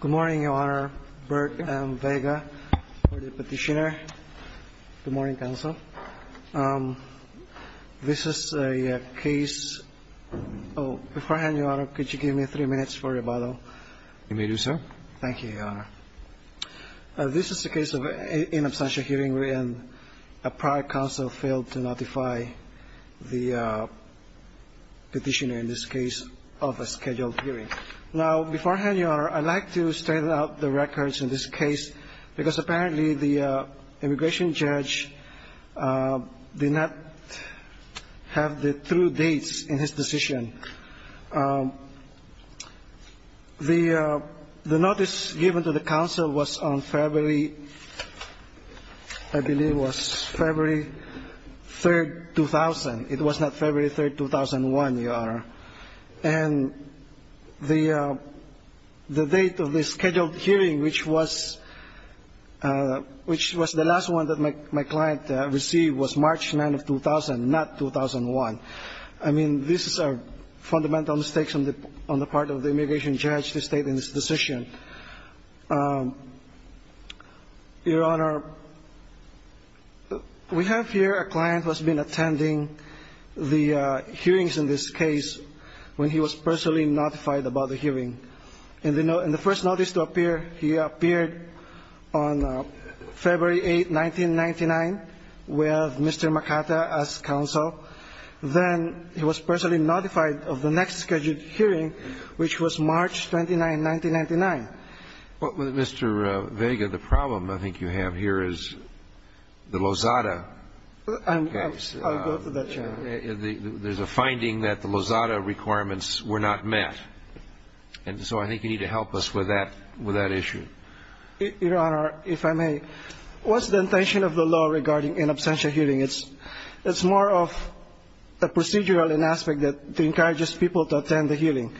Good morning, Your Honor. Bert M. Vega for the petitioner. Good morning, counsel. This is a case of – beforehand, Your Honor, could you give me three minutes for rebuttal? You may do so. Thank you, Your Honor. This is a case of an inabstantial hearing wherein a prior counsel failed to notify the petitioner in this case of a scheduled hearing. Now, beforehand, Your Honor, I'd like to straighten out the records in this case because apparently the immigration judge did not have the true dates in his decision. The notice given to the counsel was on February – I believe it was February 3, 2000. It was not February 3, 2001, Your Honor. And the date of the scheduled hearing, which was the last one that my client received, was March 9 of 2000, not 2001. I mean, these are fundamental mistakes on the part of the immigration judge to state in his decision. Your Honor, we have here a client who has been attending the hearings in this case when he was personally notified about the hearing. And the first notice to appear, he appeared on February 8, 1999 with Mr. McArthur as counsel. Then he was personally notified of the next scheduled hearing, which was March 29, 1999. But, Mr. Vega, the problem I think you have here is the Lozada case. I'll go to that, Your Honor. There's a finding that the Lozada requirements were not met. And so I think you need to help us with that issue. Your Honor, if I may, what's the intention of the law regarding in absentia hearing? It's more of a procedural aspect that encourages people to attend the hearing.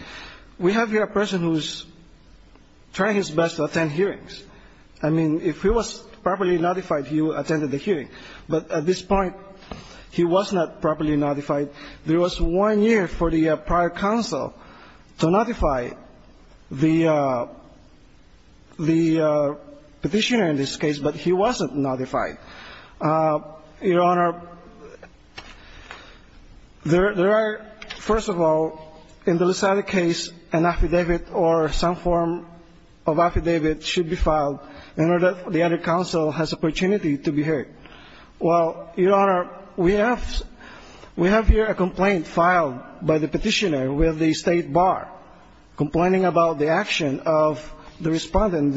We have here a person who's trying his best to attend hearings. I mean, if he was properly notified, he would attend the hearing. But at this point, he was not properly notified. There was one year for the prior counsel to notify the petitioner in this case, but he wasn't notified. Your Honor, there are, first of all, in the Lozada case, an affidavit or some form of affidavit should be filed in order that the other counsel has opportunity to be heard. Well, Your Honor, we have here a complaint filed by the petitioner with the State Bar complaining about the action of the respondent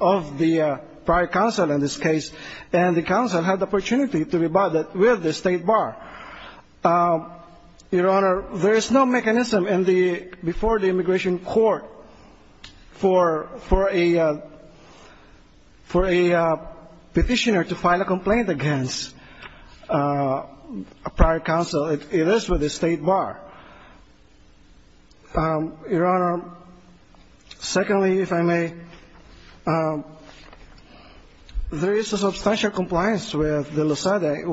of the prior counsel in this case, and the counsel had the opportunity to rebut it with the State Bar. Your Honor, there is no mechanism before the immigration court for a petitioner to file a complaint against a prior counsel. It is with the State Bar. Your Honor, secondly, if I may, there is a substantial compliance with the Lozada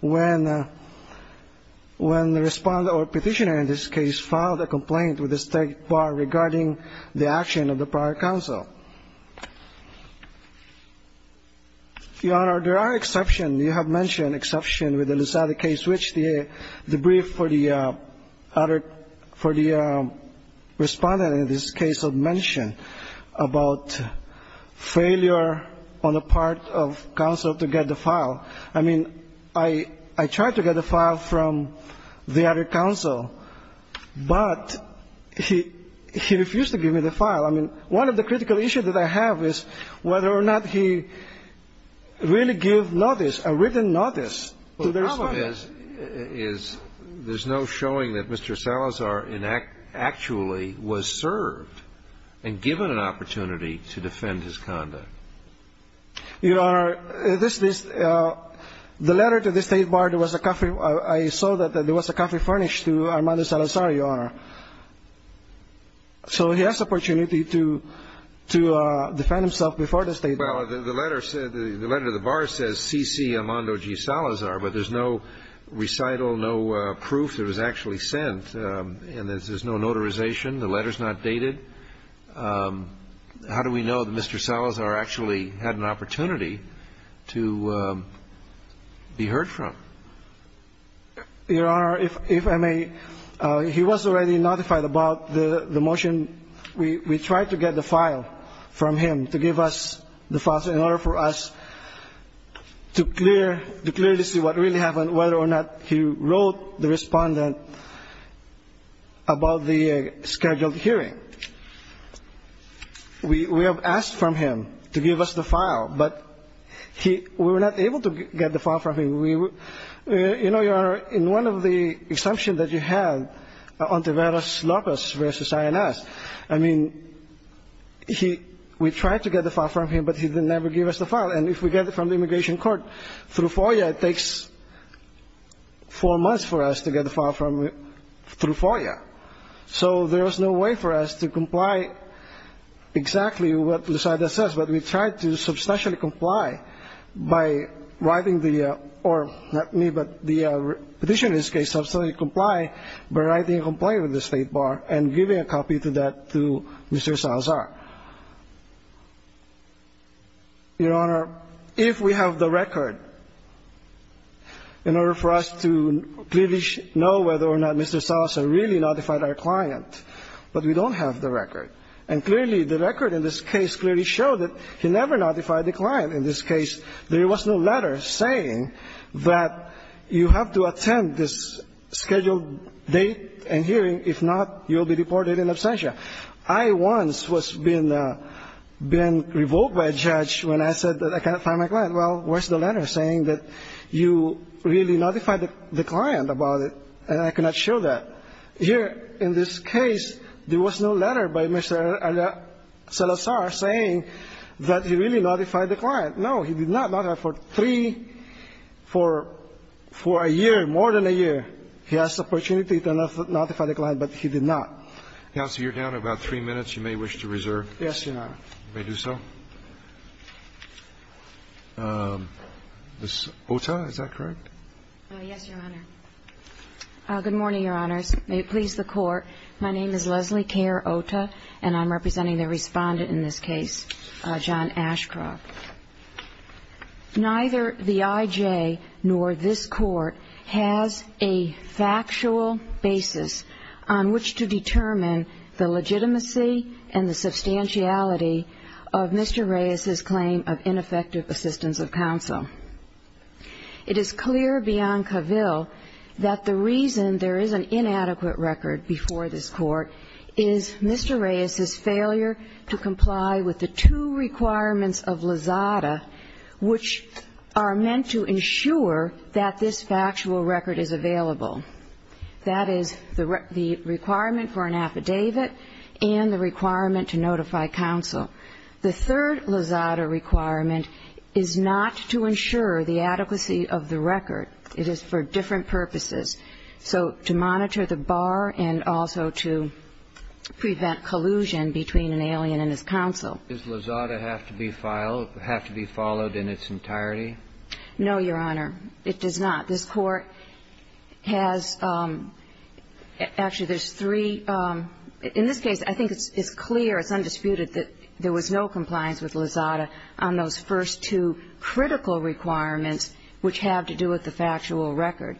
when the respondent or petitioner in this case filed a complaint with the State Bar regarding the action of the prior counsel. Your Honor, there are exceptions. You have mentioned exceptions with the Lozada case, which the brief for the respondent in this case had mentioned about failure on the part of counsel to get the file. I mean, I tried to get the file from the other counsel, but he refused to give me the file. I mean, one of the critical issues that I have is whether or not he really gave notice, a written notice to the respondent. The problem is there's no showing that Mr. Salazar actually was served and given an opportunity to defend his conduct. Your Honor, this is the letter to the State Bar. There was a coffee. I saw that there was a coffee furnished to Armando Salazar, Your Honor. So he has the opportunity to defend himself before the State Bar. Well, the letter said the letter to the Bar says C.C. Armando G. Salazar, but there's no recital, no proof that it was actually sent, and there's no notarization. The letter's not dated. How do we know that Mr. Salazar actually had an opportunity to be heard from? Your Honor, if I may, he was already notified about the motion. We tried to get the file from him to give us the file in order for us to clear, to clearly see what really happened, whether or not he wrote the respondent about the scheduled hearing. We have asked from him to give us the file, but we were not able to get the file from him. You know, Your Honor, in one of the assumptions that you had on Taveras Lopez versus INS, I mean, we tried to get the file from him, but he never gave us the file. And if we get it from the immigration court through FOIA, it takes four months for us to get the file through FOIA. So there was no way for us to comply exactly with what Lucida says, but we tried to substantially comply by writing the, or not me, but the petitioner's case, substantially comply by writing a complaint with the State Bar and giving a copy of that to Mr. Salazar. Your Honor, if we have the record, in order for us to clearly know whether or not Mr. Salazar really notified our client, but we don't have the record. And clearly, the record in this case clearly showed that he never notified the client in this case. There was no letter saying that you have to attend this scheduled date and hearing. If not, you will be deported in absentia. I once was being revoked by a judge when I said that I cannot find my client. Well, where's the letter saying that you really notified the client about it and I cannot show that? Here in this case, there was no letter by Mr. Salazar saying that he really notified the client. No, he did not. Not for three, for a year, more than a year, he has the opportunity to notify the client, but he did not. Counsel, you're down to about three minutes. You may wish to reserve. Yes, Your Honor. You may do so. Ms. Ohta, is that correct? Yes, Your Honor. Good morning, Your Honors. May it please the Court. My name is Leslie Kerr Ohta, and I'm representing the respondent in this case, John Ashcroft. Neither the I.J. nor this Court has a factual basis on which to determine the legitimacy and the substantiality of Mr. Reyes's claim of ineffective assistance of counsel. It is clear beyond Cavill that the reason there is an inadequate record before this Court is Mr. Reyes's failure to comply with the two requirements of LAZADA, which are meant to ensure that this factual record is available. That is, the requirement for an affidavit and the requirement to notify counsel. The third LAZADA requirement is not to ensure the adequacy of the record. It is for different purposes. So to monitor the bar and also to prevent collusion between an alien and his counsel. Does LAZADA have to be followed in its entirety? No, Your Honor. It does not. This Court has actually there's three. In this case, I think it's clear, it's undisputed that there was no compliance with LAZADA on those first two critical requirements which have to do with the factual record.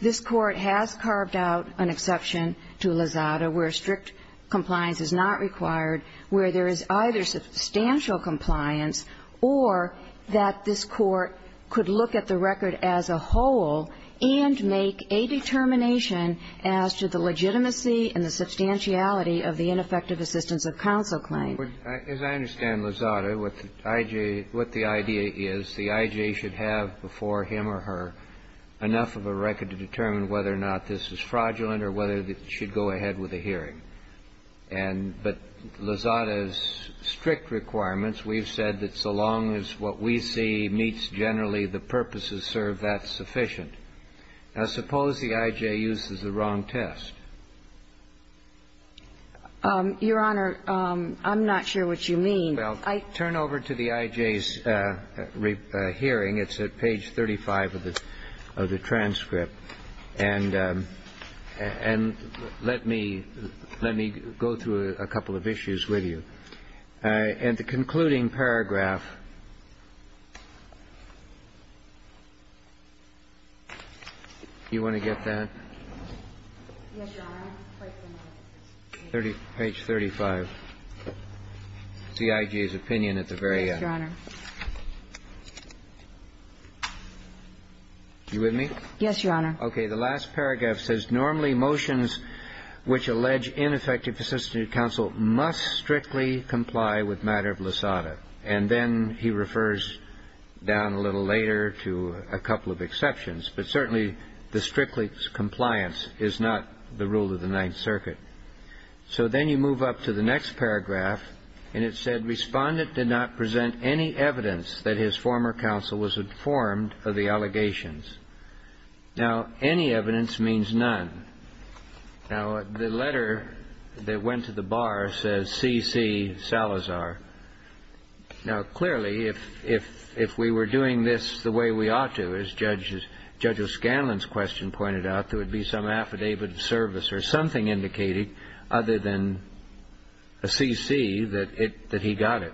This Court has carved out an exception to LAZADA where strict compliance is not required, where there is either substantial compliance or that this Court could look at the record as a whole and make a determination as to the legitimacy and the substantiality of the ineffective assistance of counsel claim. As I understand LAZADA, what the I.J. What the idea is, the I.J. should have before him or her enough of a record to determine whether or not this is fraudulent or whether it should go ahead with a hearing. And but LAZADA's strict requirements, we've said that so long as what we see meets generally the purposes serve that sufficient. Now, suppose the I.J. uses the wrong test. Your Honor, I'm not sure what you mean. Well, turn over to the I.J.'s hearing. It's at page 35 of the transcript. And let me go through a couple of issues with you. And the concluding paragraph, do you want to get that? Yes, Your Honor. Page 35. It's the I.J.'s opinion at the very end. Yes, Your Honor. You with me? Yes, Your Honor. Okay. The last paragraph says, And then he refers down a little later to a couple of exceptions. But certainly the strictest compliance is not the rule of the Ninth Circuit. So then you move up to the next paragraph. And it said, Now, any evidence means none. Now, the letter that went to the bar says C.C. Salazar. Now, clearly, if we were doing this the way we ought to, as Judge O'Scanlan's question pointed out, there would be some affidavit of service or something indicated other than a C.C. that he got it.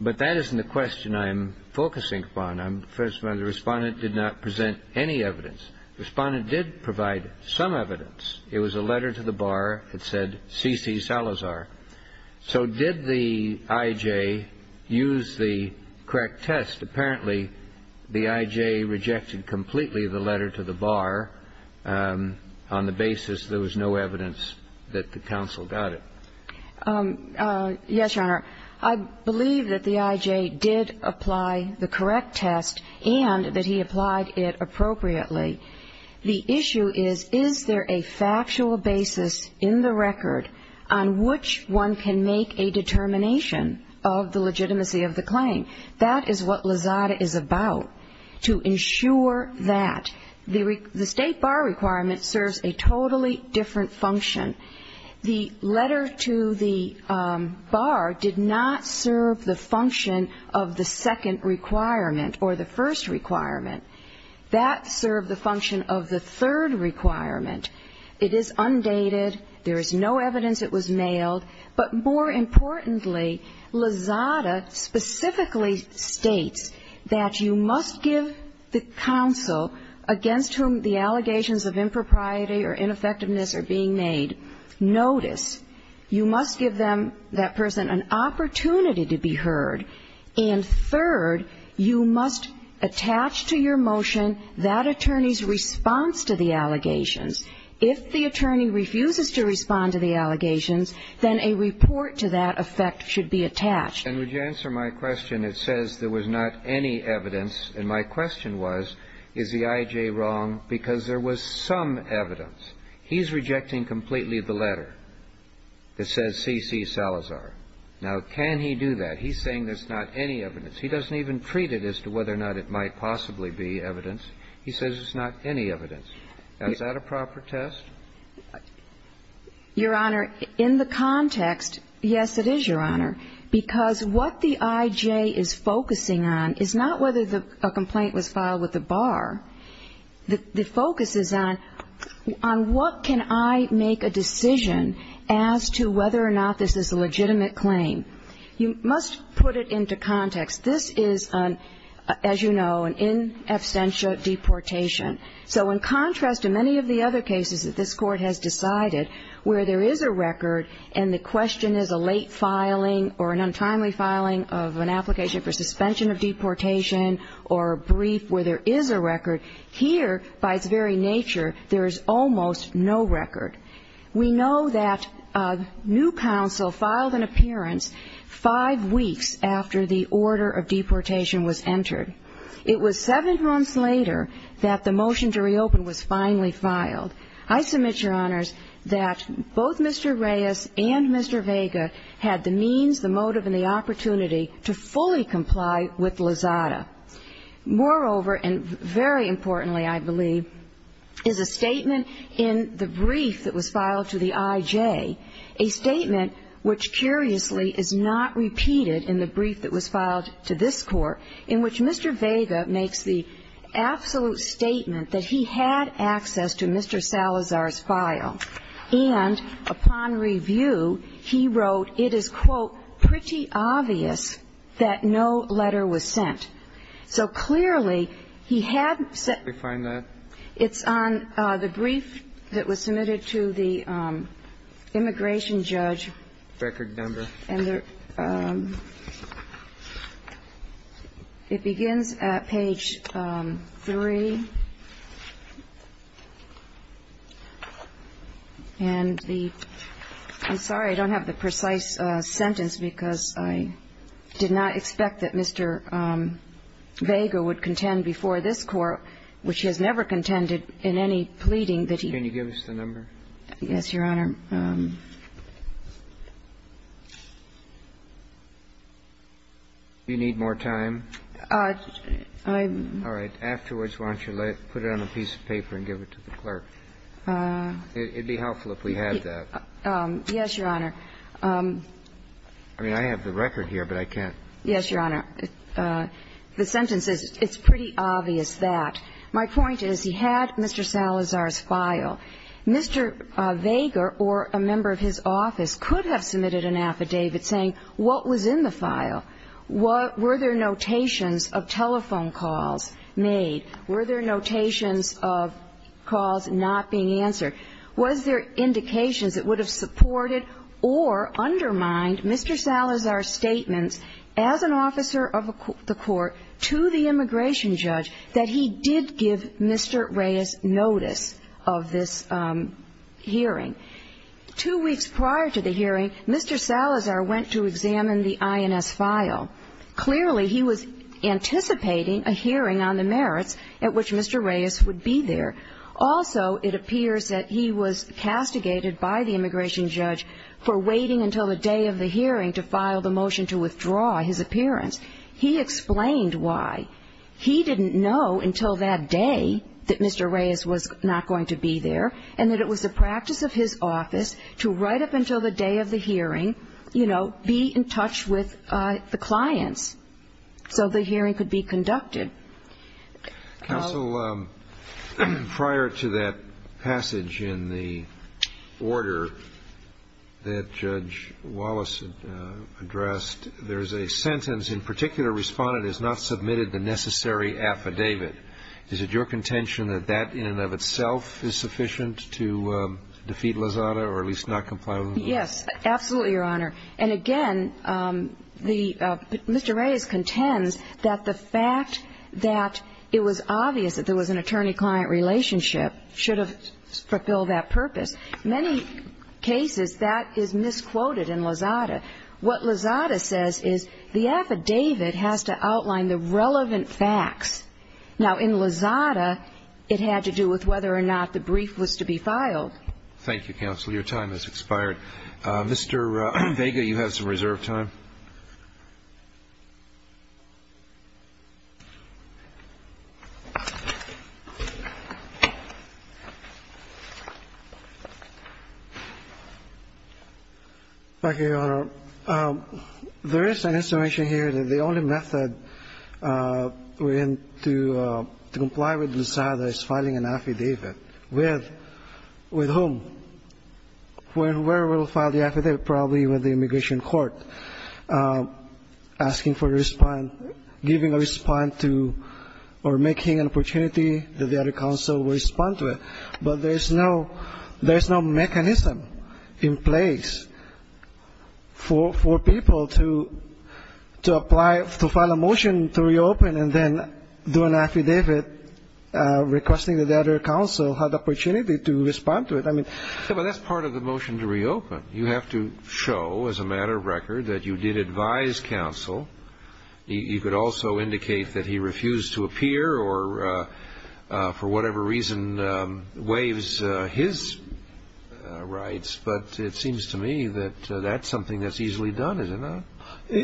But that isn't the question I'm focusing upon. First of all, the Respondent did not present any evidence. The Respondent did provide some evidence. It was a letter to the bar that said C.C. Salazar. So did the I.J. use the correct test? Apparently the I.J. rejected completely the letter to the bar on the basis there was no evidence that the counsel got it. Yes, Your Honor. I believe that the I.J. did apply the correct test and that he applied it appropriately. The issue is, is there a factual basis in the record on which one can make a determination of the legitimacy of the claim? That is what Lazada is about, to ensure that. The State Bar requirement serves a totally different function. The letter to the bar did not serve the function of the second requirement or the first requirement. That served the function of the third requirement. It is undated. There is no evidence it was mailed. But more importantly, Lazada specifically states that you must give the counsel against whom the allegations of impropriety or ineffectiveness are being made notice. You must give them, that person, an opportunity to be heard. And third, you must attach to your motion that attorney's response to the allegations. If the attorney refuses to respond to the allegations, then a report to that effect should be attached. And would you answer my question? It says there was not any evidence. And my question was, is the I.J. wrong, because there was some evidence. He's rejecting completely the letter that says C.C. Salazar. Now, can he do that? He's saying there's not any evidence. He doesn't even treat it as to whether or not it might possibly be evidence. He says there's not any evidence. Is that a proper test? Your Honor, in the context, yes, it is, Your Honor, because what the I.J. is focusing on is not whether a complaint was filed with the bar. The focus is on what can I make a decision as to whether or not this is a legitimate claim. You must put it into context. This is, as you know, an in absentia deportation. So in contrast to many of the other cases that this Court has decided where there is a record and the question is a late filing or an untimely filing of an application for suspension of deportation or a brief where there is a record, here, by its very nature, there is almost no record. We know that a new counsel filed an appearance five weeks after the order of deportation was entered. It was seven months later that the motion to reopen was finally filed. I submit, Your Honors, that both Mr. Reyes and Mr. Vega had the means, the motive and the opportunity to fully comply with Lozada. Moreover, and very importantly, I believe, is a statement in the brief that was filed to the I.J., a statement which curiously is not repeated in the brief that was filed to this Court, in which Mr. Vega makes the absolute statement that he had access to Mr. Salazar's file. And upon review, he wrote, it is, quote, pretty obvious that no letter was sent. So clearly, he had sent the brief that was submitted to the immigration judge. The record number. And there – it begins at page 3. And the – I'm sorry, I don't have the precise sentence because I did not expect that Mr. Vega would contend before this Court, which he has never contended in any pleading that he – Can you give us the number? Yes, Your Honor. Do you need more time? I'm – All right. Afterwards, why don't you put it on a piece of paper and give it to the clerk? It would be helpful if we had that. Yes, Your Honor. I mean, I have the record here, but I can't. Yes, Your Honor. The sentence is, it's pretty obvious that. My point is he had Mr. Salazar's file. Mr. Vega or a member of his office could have submitted an affidavit saying what was in the file. Were there notations of telephone calls made? Were there notations of calls not being answered? Was there indications that would have supported or undermined Mr. Salazar's statements as an officer of the Court to the immigration judge that he did give Mr. Reyes notice of this hearing? Two weeks prior to the hearing, Mr. Salazar went to examine the INS file. Clearly, he was anticipating a hearing on the merits at which Mr. Reyes would be there. Also, it appears that he was castigated by the immigration judge for waiting until the day of the hearing to file the motion to withdraw his appearance. He explained why. He didn't know until that day that Mr. Reyes was not going to be there and that it was the practice of his office to write up until the day of the hearing, you know, be in touch with the clients so the hearing could be conducted. Counsel, prior to that passage in the order that Judge Wallace addressed, there's a sentence in particular respondent has not submitted the necessary affidavit. Is it your contention that that in and of itself is sufficient to defeat Lozada or at least not comply with the law? Yes, absolutely, Your Honor. And again, Mr. Reyes contends that the fact that it was obvious that there was an attorney-client relationship should have fulfilled that purpose. In many cases, that is misquoted in Lozada. What Lozada says is the affidavit has to outline the relevant facts. Now, in Lozada, it had to do with whether or not the brief was to be filed. Thank you, counsel. Your time has expired. Mr. Vega, you have some reserve time. Thank you, Your Honor. There is an instruction here that the only method to comply with Lozada is filing an affidavit. With whom? Where will file the affidavit? I'm asking for a response, giving a response to or making an opportunity that the other counsel will respond to it. But there is no mechanism in place for people to apply, to file a motion to reopen and then do an affidavit requesting that the other counsel have the opportunity to respond to it. I mean ---- That's part of the motion to reopen. You have to show, as a matter of record, that you did advise counsel. You could also indicate that he refused to appear or, for whatever reason, waives his rights. But it seems to me that that's something that's easily done, is it not?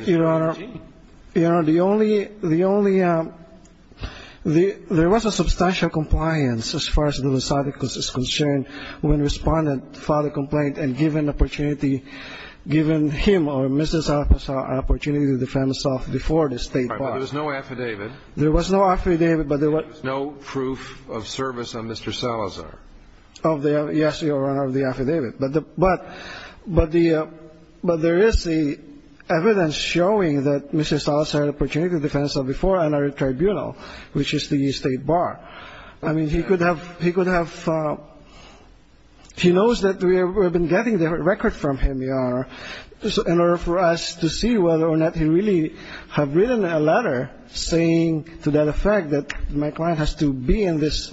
Your Honor, the only ---- there was a substantial compliance as far as Lozada is concerned when Respondent filed a complaint and given an opportunity, given him or Mrs. Salazar an opportunity to defend himself before the State bar. All right. But there was no affidavit. There was no affidavit, but there was no ---- There was no proof of service on Mr. Salazar. Of the ---- yes, Your Honor, of the affidavit. But the ---- but the ---- but there is evidence showing that Mr. Salazar had an opportunity to defend himself before another tribunal, which is the State bar. I mean, he could have ---- he could have ---- he knows that we have been getting the record from him, Your Honor. So in order for us to see whether or not he really have written a letter saying to that effect that my client has to be in this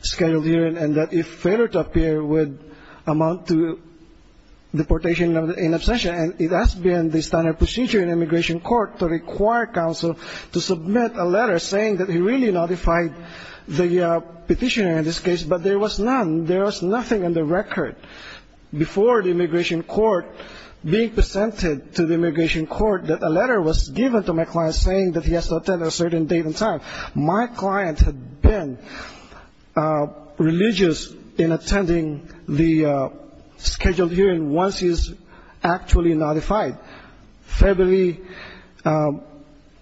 scheduled hearing and that if failure to appear would amount to deportation in absentia, and it has been the standard procedure in immigration court to require counsel to submit a letter saying that he really notified the petitioner in this case. But there was none. There was nothing on the record before the immigration court being presented to the immigration court that a letter was given to my client saying that he has to attend a certain date and time. My client had been religious in attending the scheduled hearing once he was actually notified. He was notified on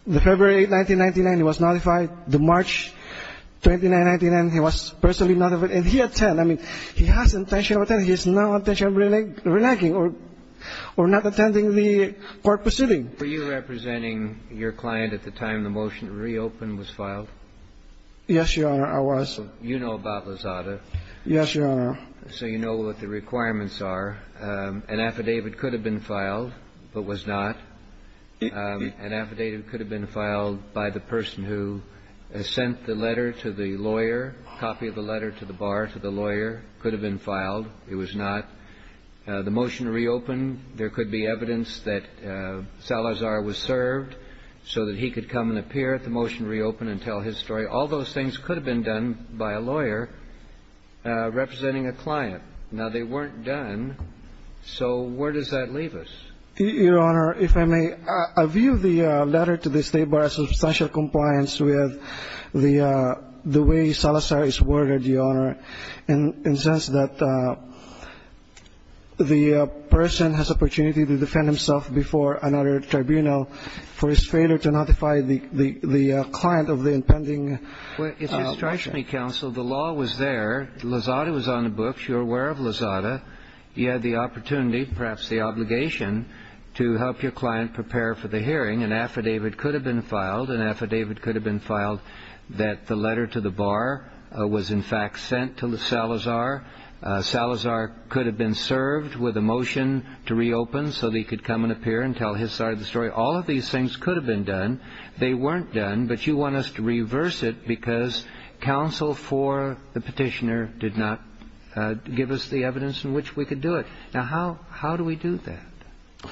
February 8, 1999. He was notified the March 29, 1999. He was personally notified. And he attended. I mean, he has intention of attending. He has no intention of reneging or not attending the court proceeding. Were you representing your client at the time the motion to reopen was filed? Yes, Your Honor, I was. So you know about Lozada. Yes, Your Honor. So you know what the requirements are. An affidavit could have been filed but was not. An affidavit could have been filed by the person who sent the letter to the lawyer, copy of the letter to the bar to the lawyer, could have been filed. It was not. The motion to reopen, there could be evidence that Salazar was served so that he could come and appear at the motion to reopen and tell his story. Now, they weren't done. So where does that leave us? Your Honor, if I may, I view the letter to the State Bar as substantial compliance with the way Salazar is worded, Your Honor, in the sense that the person has opportunity to defend himself before another tribunal for his failure to notify the client of the impending motion. Well, it strikes me, counsel, the law was there. Lozada was on the books. You're aware of Lozada. He had the opportunity, perhaps the obligation, to help your client prepare for the hearing. An affidavit could have been filed. An affidavit could have been filed that the letter to the bar was in fact sent to Salazar. Salazar could have been served with a motion to reopen so that he could come and appear and tell his side of the story. All of these things could have been done. They weren't done. But you want us to reverse it because counsel for the petitioner did not give us the evidence in which we could do it. Now, how do we do that?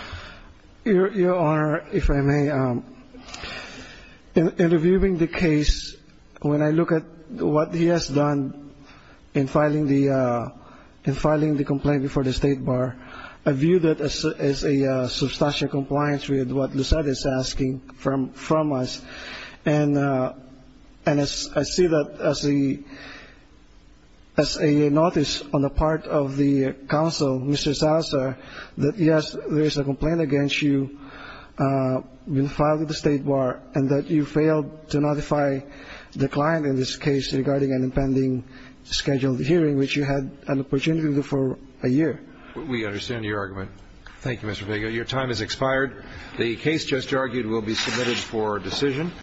Your Honor, if I may, in reviewing the case, when I look at what he has done in filing the complaint before the State Bar, I view that as a substantial compliance with what Lozada is asking from us. And I see that as a notice on the part of the counsel, Mr. Salazar, that, yes, there is a complaint against you, been filed at the State Bar, and that you failed to notify the client in this case regarding an impending scheduled hearing, which you had an opportunity for a year. We understand your argument. Thank you, Mr. Vega. Your time has expired. The case just argued will be submitted for decision.